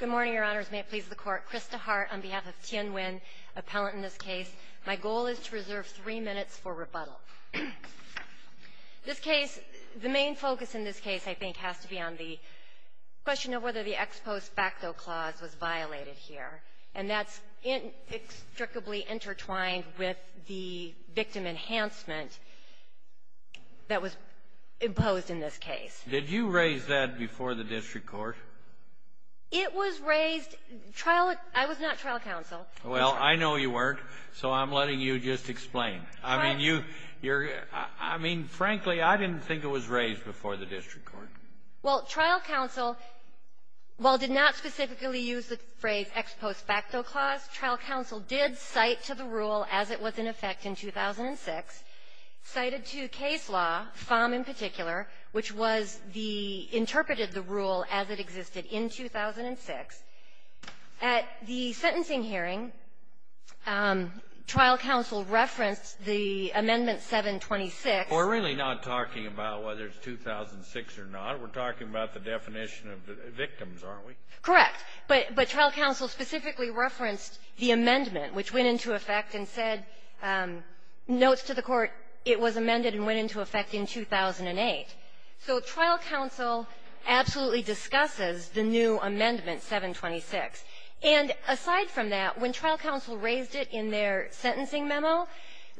Good morning, Your Honors. May it please the Court, Krista Hart on behalf of Tien Nguyen, appellant in this case. My goal is to reserve three minutes for rebuttal. This case, the main focus in this case, I think, has to be on the question of whether the ex post facto clause was violated here, and that's inextricably intertwined with the victim enhancement that was imposed in this case. Did you raise that before the district court? It was raised trial — I was not trial counsel. Well, I know you weren't, so I'm letting you just explain. I mean, you — you're — I mean, frankly, I didn't think it was raised before the district court. Well, trial counsel, while did not specifically use the phrase ex post facto clause, trial counsel did cite to the rule as it was in effect in 2006, cited to case law, FOMM in particular, which was the — interpreted the rule as it existed in 2006. At the sentencing hearing, trial counsel referenced the Amendment 726. We're really not talking about whether it's 2006 or not. We're talking about the definition of the victims, aren't we? Correct. But — but trial counsel specifically referenced the amendment, which went into effect and said, notes to the court, it was amended and went into effect in 2008. So trial counsel absolutely discusses the new amendment, 726. And aside from that, when trial counsel raised it in their sentencing memo,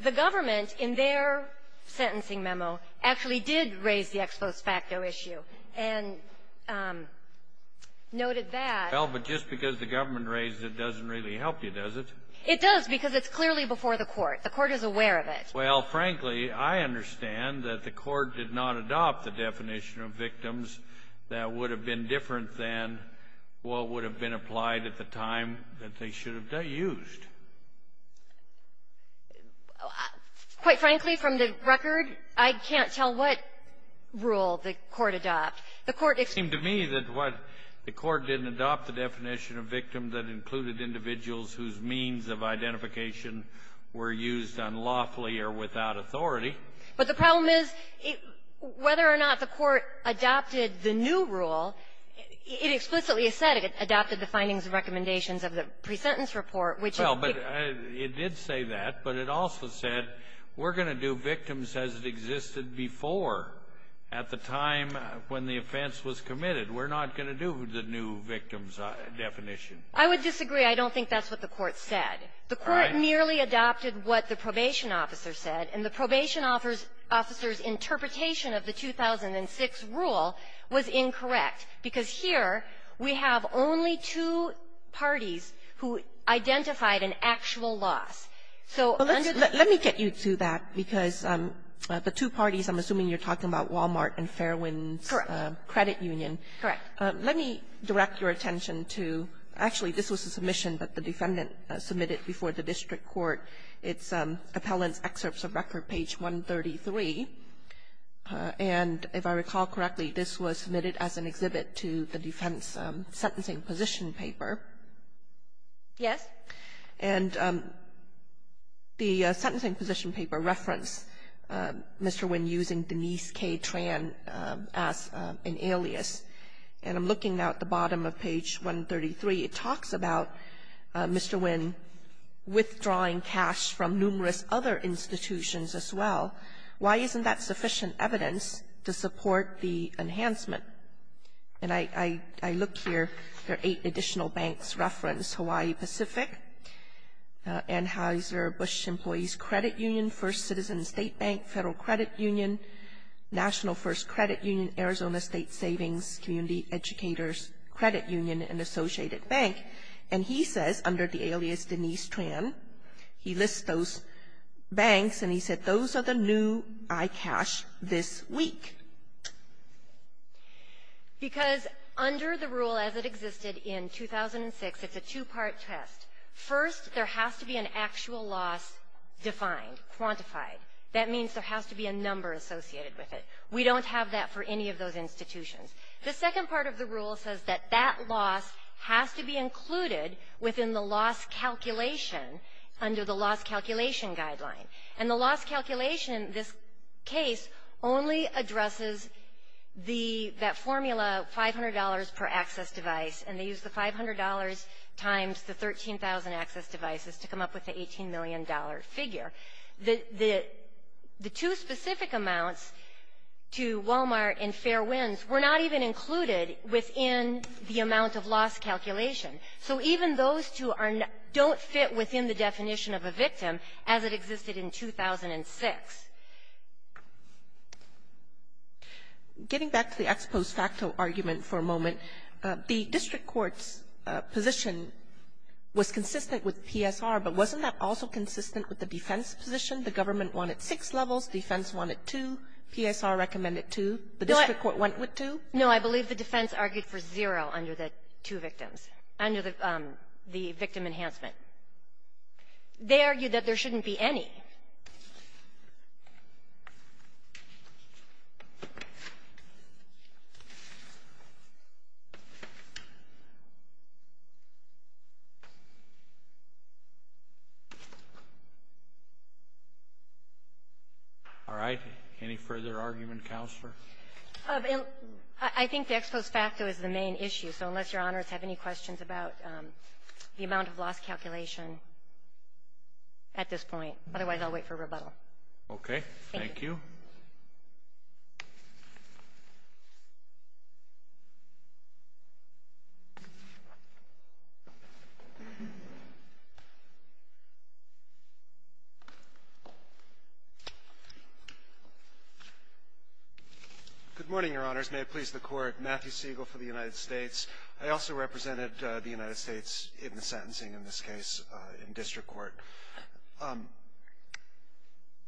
the government, in their sentencing memo, actually did raise the ex post facto issue and noted that Well, but just because the government raised it doesn't really help you, does it? It does, because it's clearly before the court. The court is aware of it. Well, frankly, I understand that the court did not adopt the definition of victims that would have been different than what would have been applied at the time that they should have used. Quite frankly, from the record, I can't tell what rule the court adopted. The court — It seems to me that what the court didn't adopt the definition of victim that included individuals whose means of identification were used unlawfully or without authority. But the problem is, whether or not the court adopted the new rule, it explicitly said it adopted the findings and recommendations of the presentence report, which Well, but it did say that. But it also said we're going to do victims as it existed before. At the time when the offense was committed, we're not going to do the new victims definition. I would disagree. I don't think that's what the court said. The court merely adopted what the probation officer said. And the probation officer's interpretation of the 2006 rule was incorrect, because here we have only two parties who identified an actual loss. So under the — Let me get you to that, because the two parties, I'm assuming you're talking about Walmart and Fairwind's credit union. Correct. Let me direct your attention to — actually, this was a submission that the defendant submitted before the district court. It's Appellant's Excerpts of Record, page 133. And if I recall correctly, this was submitted as an exhibit to the defense sentencing position paper. Yes. And the sentencing position paper referenced Mr. Wynn using Denise K. Tran as an alias. And I'm looking now at the bottom of page 133. It talks about Mr. Wynn withdrawing cash from numerous other institutions as well. Why isn't that sufficient evidence to support the enhancement? And I look here. There are eight additional banks referenced, Hawaii Pacific, Anheuser-Busch Employees Credit Union, First Citizen State Bank, Federal Credit Union, National First Credit Union, Arizona State Savings Community Educators Credit Union, and Associated Bank. And he says, under the alias Denise Tran, he lists those banks, and he said those are the new iCash this week. Because under the rule as it existed in 2006, it's a two-part test. First, there has to be an actual loss defined, quantified. That means there has to be a number associated with it. We don't have that for any of those institutions. The second part of the rule says that that loss has to be included within the loss calculation under the loss calculation guideline. And the loss calculation, this case, only addresses the that formula $500 per access device, and they use the $500 times the 13,000 access devices to come up with the $18 million figure. The two specific amounts to Walmart and Fairwinds were not even included within the amount of loss calculation. So even those two are not don't fit within the definition of a victim as it existed in 2006. Ginsburg. Getting back to the ex post facto argument for a moment, the district court's position was consistent with PSR, but wasn't that also consistent with the defense position? The government wanted six levels, defense wanted two, PSR recommended two, the district court went with two? No. I believe the defense argued for zero under the two victims, under the victim enhancement. They argued that there shouldn't be any. All right. Any further argument, Counselor? I think the ex post facto is the main issue. So unless Your Honors have any questions about the amount of loss calculation at this point. Otherwise, I'll wait for rebuttal. Okay. Thank you. Good morning, Your Honors. May it please the Court. Matthew Siegel for the United States. I also represented the United States in the sentencing in this case in district court.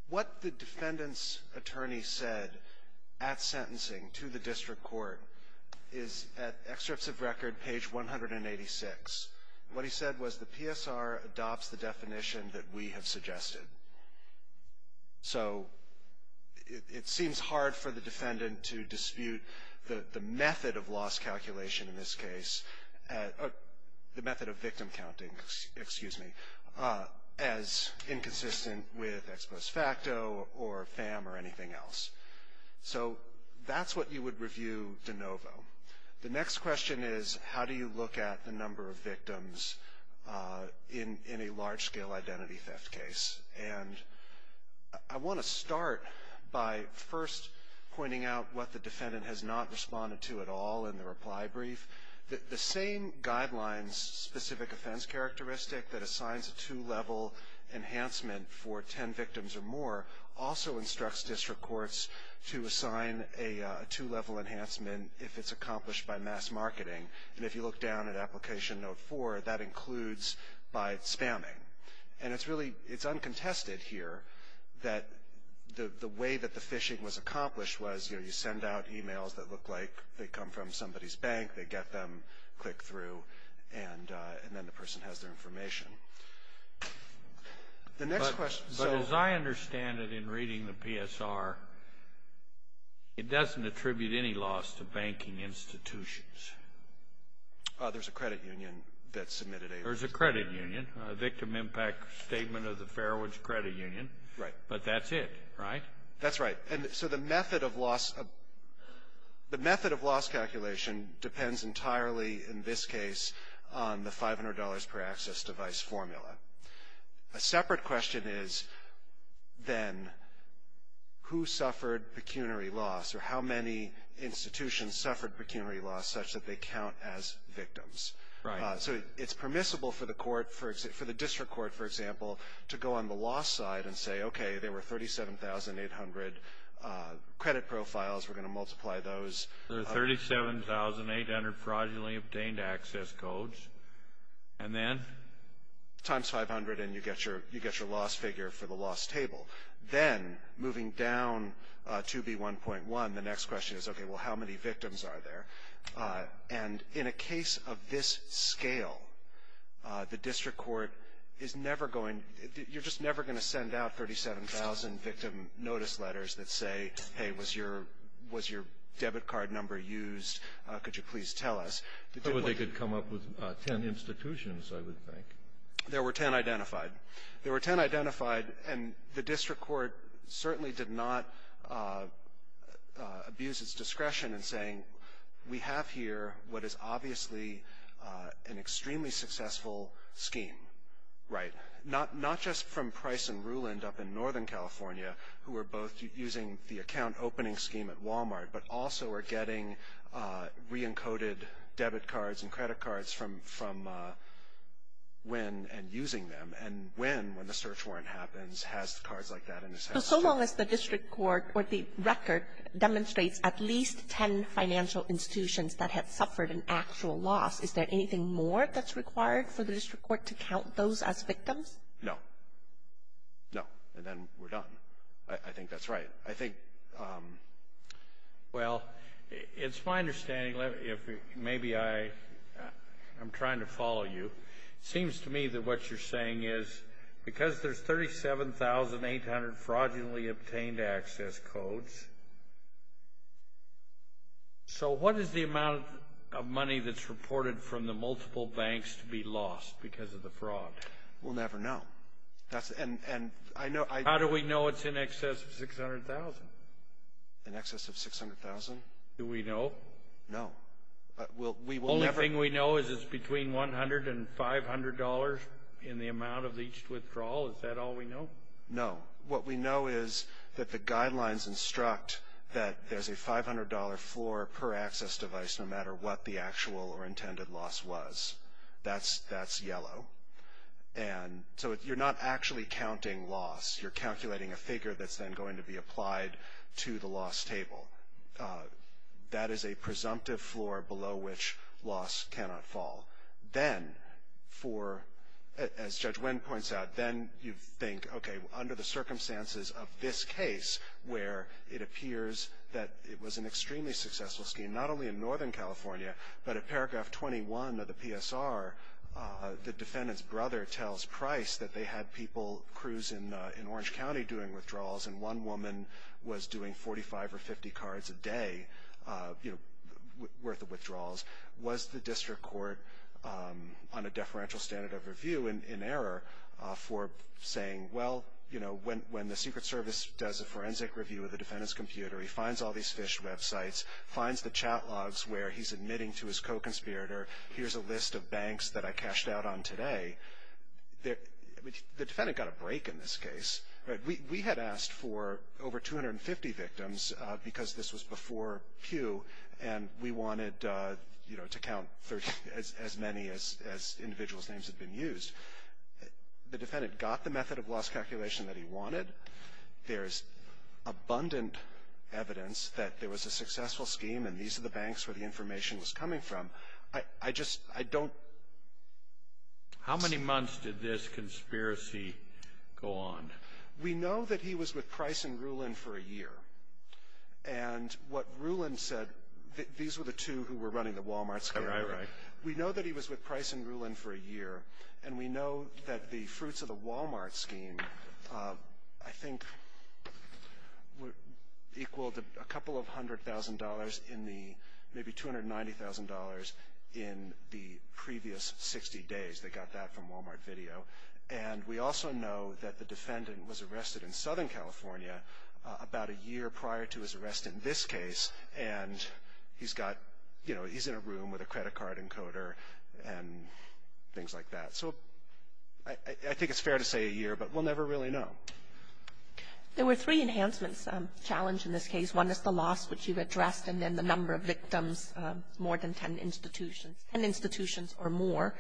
What the defendant's attorney said at sentencing to the district court is at excerpts of record page 186. What he said was the PSR adopts the definition that we have suggested. So it seems hard for the defendant to dispute the method of loss calculation in this case, the method of victim counting, excuse me, as inconsistent with ex post facto or FAM or anything else. So that's what you would review de novo. The next question is how do you look at the number of victims in a large scale identity theft case? And I want to start by first pointing out what the defendant has not responded to at all in the reply brief. The same guidelines specific offense characteristic that assigns a two level enhancement for 10 victims or more also instructs district courts to assign a two level enhancement if it's accomplished by mass marketing. And if you look down at application note four, that includes by spamming. And it's really, it's uncontested here that the way that the phishing was accomplished was you send out emails that look like they come from somebody's bank, they get them, click through, and then the person has their information. The next question. But as I understand it in reading the PSR, it doesn't attribute any loss to banking institutions. There's a credit union that submitted a. There's a credit union. A victim impact statement of the Fairwoods Credit Union. Right. But that's it, right? That's right. And so the method of loss, the method of loss calculation depends entirely in this case on the $500 per access device formula. A separate question is then who suffered pecuniary loss or how many institutions suffered pecuniary loss such that they count as victims. Right. So it's permissible for the court, for the district court, for example, to go on the loss side and say, okay, there were 37,800 credit profiles. We're going to multiply those. There were 37,800 fraudulently obtained access codes. And then? Times 500 and you get your loss figure for the loss table. Then moving down to B1.1, the next question is, okay, well, how many victims are there? And in a case of this scale, the district court is never going to you're just never going to send out 37,000 victim notice letters that say, hey, was your was your debit card number used? Could you please tell us? But they could come up with ten institutions, I would think. There were ten identified. There were ten identified, and the district court certainly did not abuse its discretion in saying, we have here what is obviously an extremely successful scheme. Right. Not just from Price and Ruland up in Northern California, who are both using the account opening scheme at Walmart, but also are getting reencoded debit cards and credit cards from Wynn and using them. And Wynn, when the search warrant happens, has cards like that in his house. So so long as the district court or the record demonstrates at least ten financial institutions that have suffered an actual loss, is there anything more that's required for the district court to count those as victims? No. No. And then we're done. I think that's right. I think, well, it's my understanding, maybe I'm trying to follow you. It seems to me that what you're saying is, because there's 37,800 fraudulently obtained access codes, so what is the amount of money that's reported from the multiple banks to be lost because of the fraud? We'll never know. How do we know it's in excess of 600,000? In excess of 600,000? Do we know? No. The only thing we know is it's between $100 and $500 in the amount of each withdrawal. Is that all we know? No. What we know is that the guidelines instruct that there's a $500 floor per access device, no matter what the actual or intended loss was. That's yellow. And so you're not actually counting loss. You're calculating a figure that's then going to be applied to the loss table. That is a presumptive floor below which loss cannot fall. Then, as Judge Winn points out, then you think, okay, under the circumstances of this case, where it appears that it was an extremely successful scheme, not only in northern California, but at paragraph 21 of the PSR, the defendant's brother tells Price that they had people, crews in Orange County doing withdrawals, and one woman was doing 45 or 50 cards a day worth of withdrawals. Was the district court on a deferential standard of review in error for saying, well, you know, when the Secret Service does a forensic review of the defendant's computer, he finds all these phished websites, finds the chat logs where he's admitting to his co-conspirator, here's a list of banks that I cashed out on today. The defendant got a break in this case. We had asked for over 250 victims because this was before Pew, and we wanted, you know, to count as many as individuals' names had been used. The defendant got the method of loss calculation that he wanted. There's abundant evidence that there was a successful scheme, and these are the banks where the information was coming from. I just, I don't. How many months did this conspiracy go on? We know that he was with Price and Rulin for a year, and what Rulin said, these were the two who were running the Wal-Mart scheme. Right, right. We know that he was with Price and Rulin for a year, and we know that the fruits of the Wal-Mart scheme, I think, equaled a couple of hundred thousand dollars in the, maybe $290,000 in the previous 60 days. They got that from Wal-Mart Video. And we also know that the defendant was arrested in Southern California about a year prior to his arrest in this case, and he's got, you know, he's in a room with a credit card encoder and things like that. So I think it's fair to say a year, but we'll never really know. There were three enhancements challenged in this case. One is the loss, which you addressed, and then the number of victims, more than ten institutions, ten institutions or more,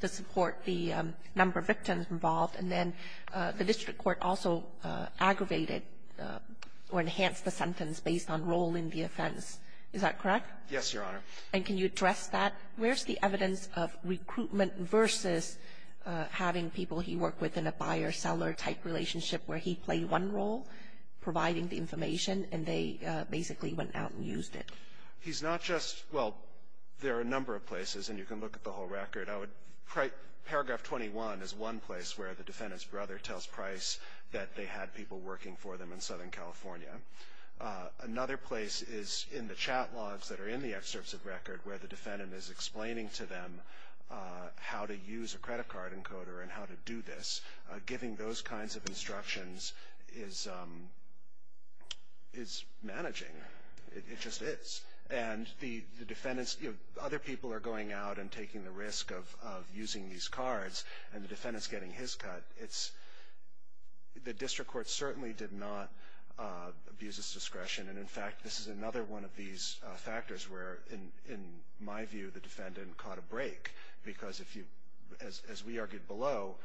to support the number of victims involved. And then the district court also aggravated or enhanced the sentence based on role in the offense. Is that correct? Yes, Your Honor. And can you address that? Where's the evidence of recruitment versus having people he worked with in a buyer-seller type relationship where he played one role providing the information, and they basically went out and used it? He's not just — well, there are a number of places, and you can look at the whole record. I would — paragraph 21 is one place where the defendant's brother tells Price that they had people working for them in Southern California. Another place is in the chat logs that are in the excerpts of record where the defendant is explaining to them how to use a credit card encoder and how to do this. Giving those kinds of instructions is managing. It just is. And the defendant's — other people are going out and taking the risk of using these cards, and the defendant's getting his cut. The district court certainly did not abuse his discretion. And, in fact, this is another one of these factors where, in my view, the defendant caught a break. Because if you — as we argued below,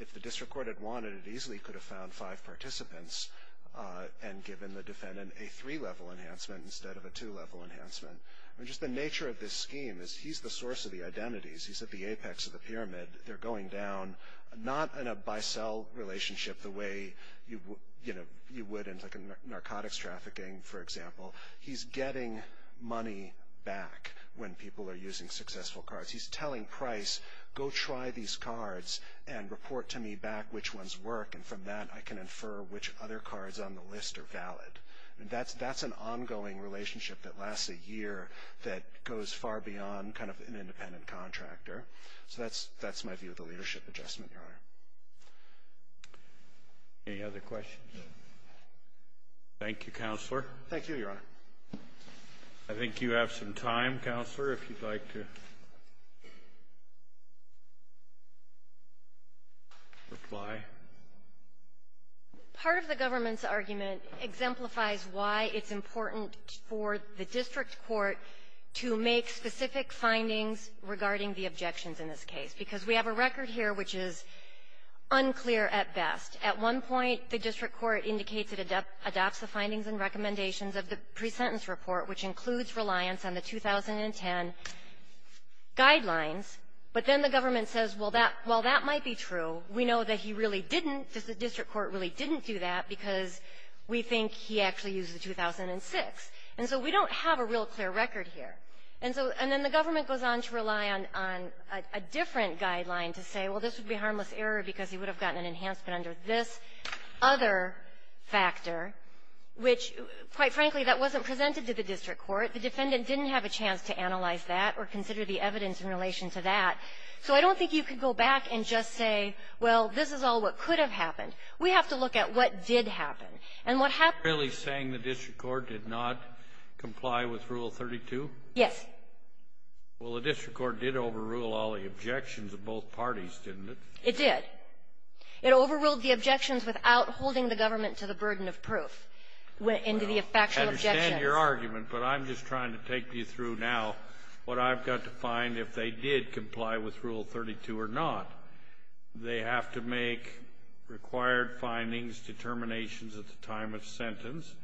if the district court had wanted, it easily could have found five participants and given the defendant a three-level enhancement instead of a two-level enhancement. I mean, just the nature of this scheme is he's the source of the identities. He's at the apex of the pyramid. They're going down, not in a buy-sell relationship the way you would in, like, narcotics trafficking, for example. He's getting money back when people are using successful cards. He's telling Price, go try these cards and report to me back which ones work, and from that I can infer which other cards on the list are valid. And that's an ongoing relationship that lasts a year that goes far beyond kind of an independent contractor. So that's my view of the leadership adjustment, Your Honor. Any other questions? Thank you, Counselor. Thank you, Your Honor. I think you have some time, Counselor, if you'd like to reply. Part of the government's argument exemplifies why it's important for the district court to make specific findings regarding the objections in this case, because we have a record here which is unclear at best. At one point, the district court indicates it adopts the findings and recommendations of the presentence report, which includes reliance on the 2010 guidelines. But then the government says, well, that might be true. We know that he really didn't. The district court really didn't do that because we think he actually used the 2006. And so we don't have a real clear record here. And so the government goes on to rely on a different guideline to say, well, this would be harmless error because he would have gotten an enhancement under this other factor, which, quite frankly, that wasn't presented to the district court. The defendant didn't have a chance to analyze that or consider the evidence in relation to that. So I don't think you could go back and just say, well, this is all what could have happened. We have to look at what did happen. And what happened to the district court? Really saying the district court did not comply with Rule 32? Yes. Well, the district court did overrule all the objections of both parties, didn't it? It did. It overruled the objections without holding the government to the burden of proof, went into the factual objections. I understand your argument, but I'm just trying to take you through now what I've got to find if they did comply with Rule 32 or not. They have to make required findings, determinations at the time of sentence,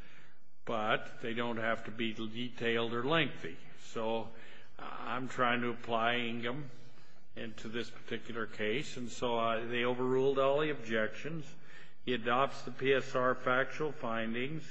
but they don't have to be detailed or lengthy. So I'm trying to apply Ingham into this particular case. And so they overruled all the objections. He adopts the PSR factual findings.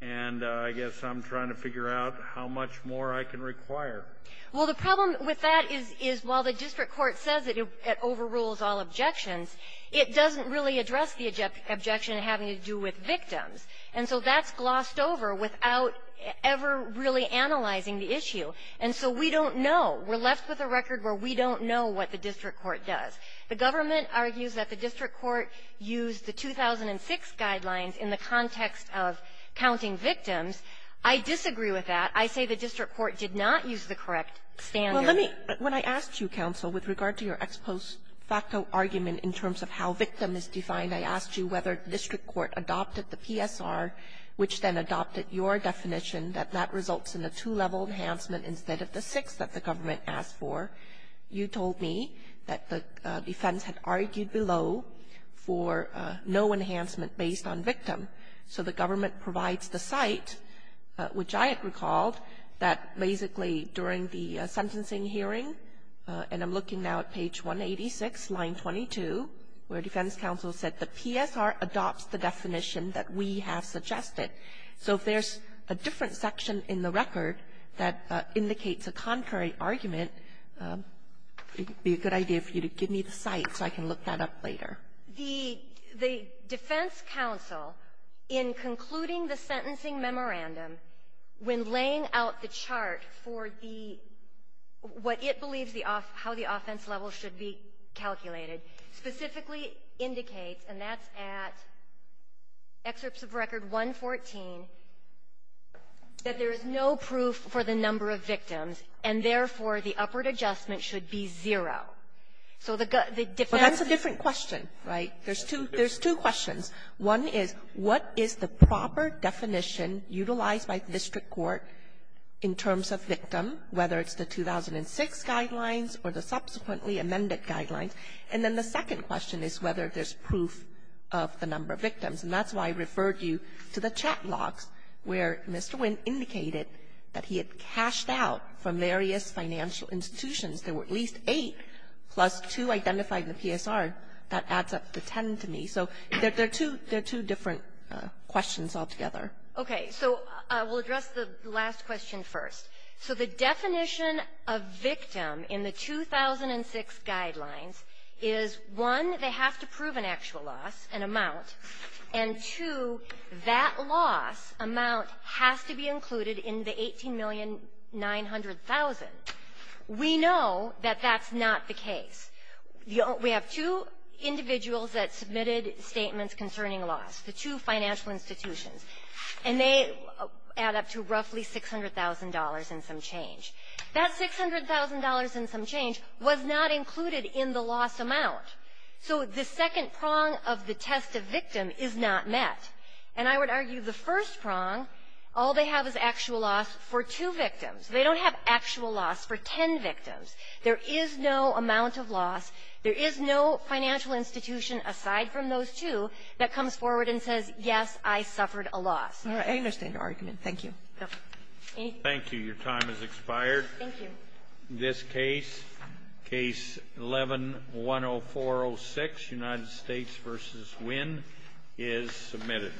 And I guess I'm trying to figure out how much more I can require. Well, the problem with that is, is while the district court says that it overrules all objections, it doesn't really address the objection having to do with victims. And so that's glossed over without ever really analyzing the issue. And so we don't know. We're left with a record where we don't know what the district court does. The government argues that the district court used the 2006 guidelines in the context of counting victims. I disagree with that. I say the district court did not use the correct standard. Well, let me – when I asked you, counsel, with regard to your ex post facto argument in terms of how victim is defined, I asked you whether the district court adopted the PSR, which then adopted your definition that that results in a two-level enhancement instead of the six that the government asked for. You told me that the defense had argued below for no enhancement based on victim. So the government provides the site, which I had recalled, that basically during the sentencing hearing, and I'm looking now at page 186, line 22, where defense counsel said the PSR adopts the definition that we have suggested. So if there's a different section in the record that indicates a contrary argument, it would be a good idea for you to give me the site so I can look that up later. The defense counsel, in concluding the sentencing memorandum, when laying out the chart for the – what it believes the – how the offense level should be calculated, specifically indicates, and that's at excerpts of record 114, that there is no proof for the number of victims, and therefore, the upward adjustment should be zero. So the defense – Sotomayor, that's a different question, right? There's two – there's two questions. One is, what is the proper definition utilized by district court in terms of victim, whether it's the 2006 guidelines or the subsequently amended guidelines? And then the second question is whether there's proof of the number of victims. And that's why I referred you to the chat logs where Mr. Wynn indicated that he had cashed out from various financial institutions. There were at least eight, plus two identified in the PSR. That adds up to ten to me. So there are two – there are two different questions altogether. Okay. So I will address the last question first. So the definition of victim in the 2006 guidelines is, one, they have to prove an actual loss, an amount, and, two, that loss amount has to be included in the $18,900,000. We know that that's not the case. We have two individuals that submitted statements concerning loss, the two financial institutions, and they add up to roughly $600,000 and some change. That $600,000 and some change was not included in the loss amount. So the second prong of the test of victim is not met. And I would argue the first prong, all they have is actual loss for two victims. They don't have actual loss for ten victims. There is no amount of loss. There is no financial institution aside from those two that comes forward and says, yes, I suffered a loss. All right. I understand your argument. Thank you. Thank you. Your time has expired. Thank you. This case, Case 11-10406, United States v. Wynn, is submitted.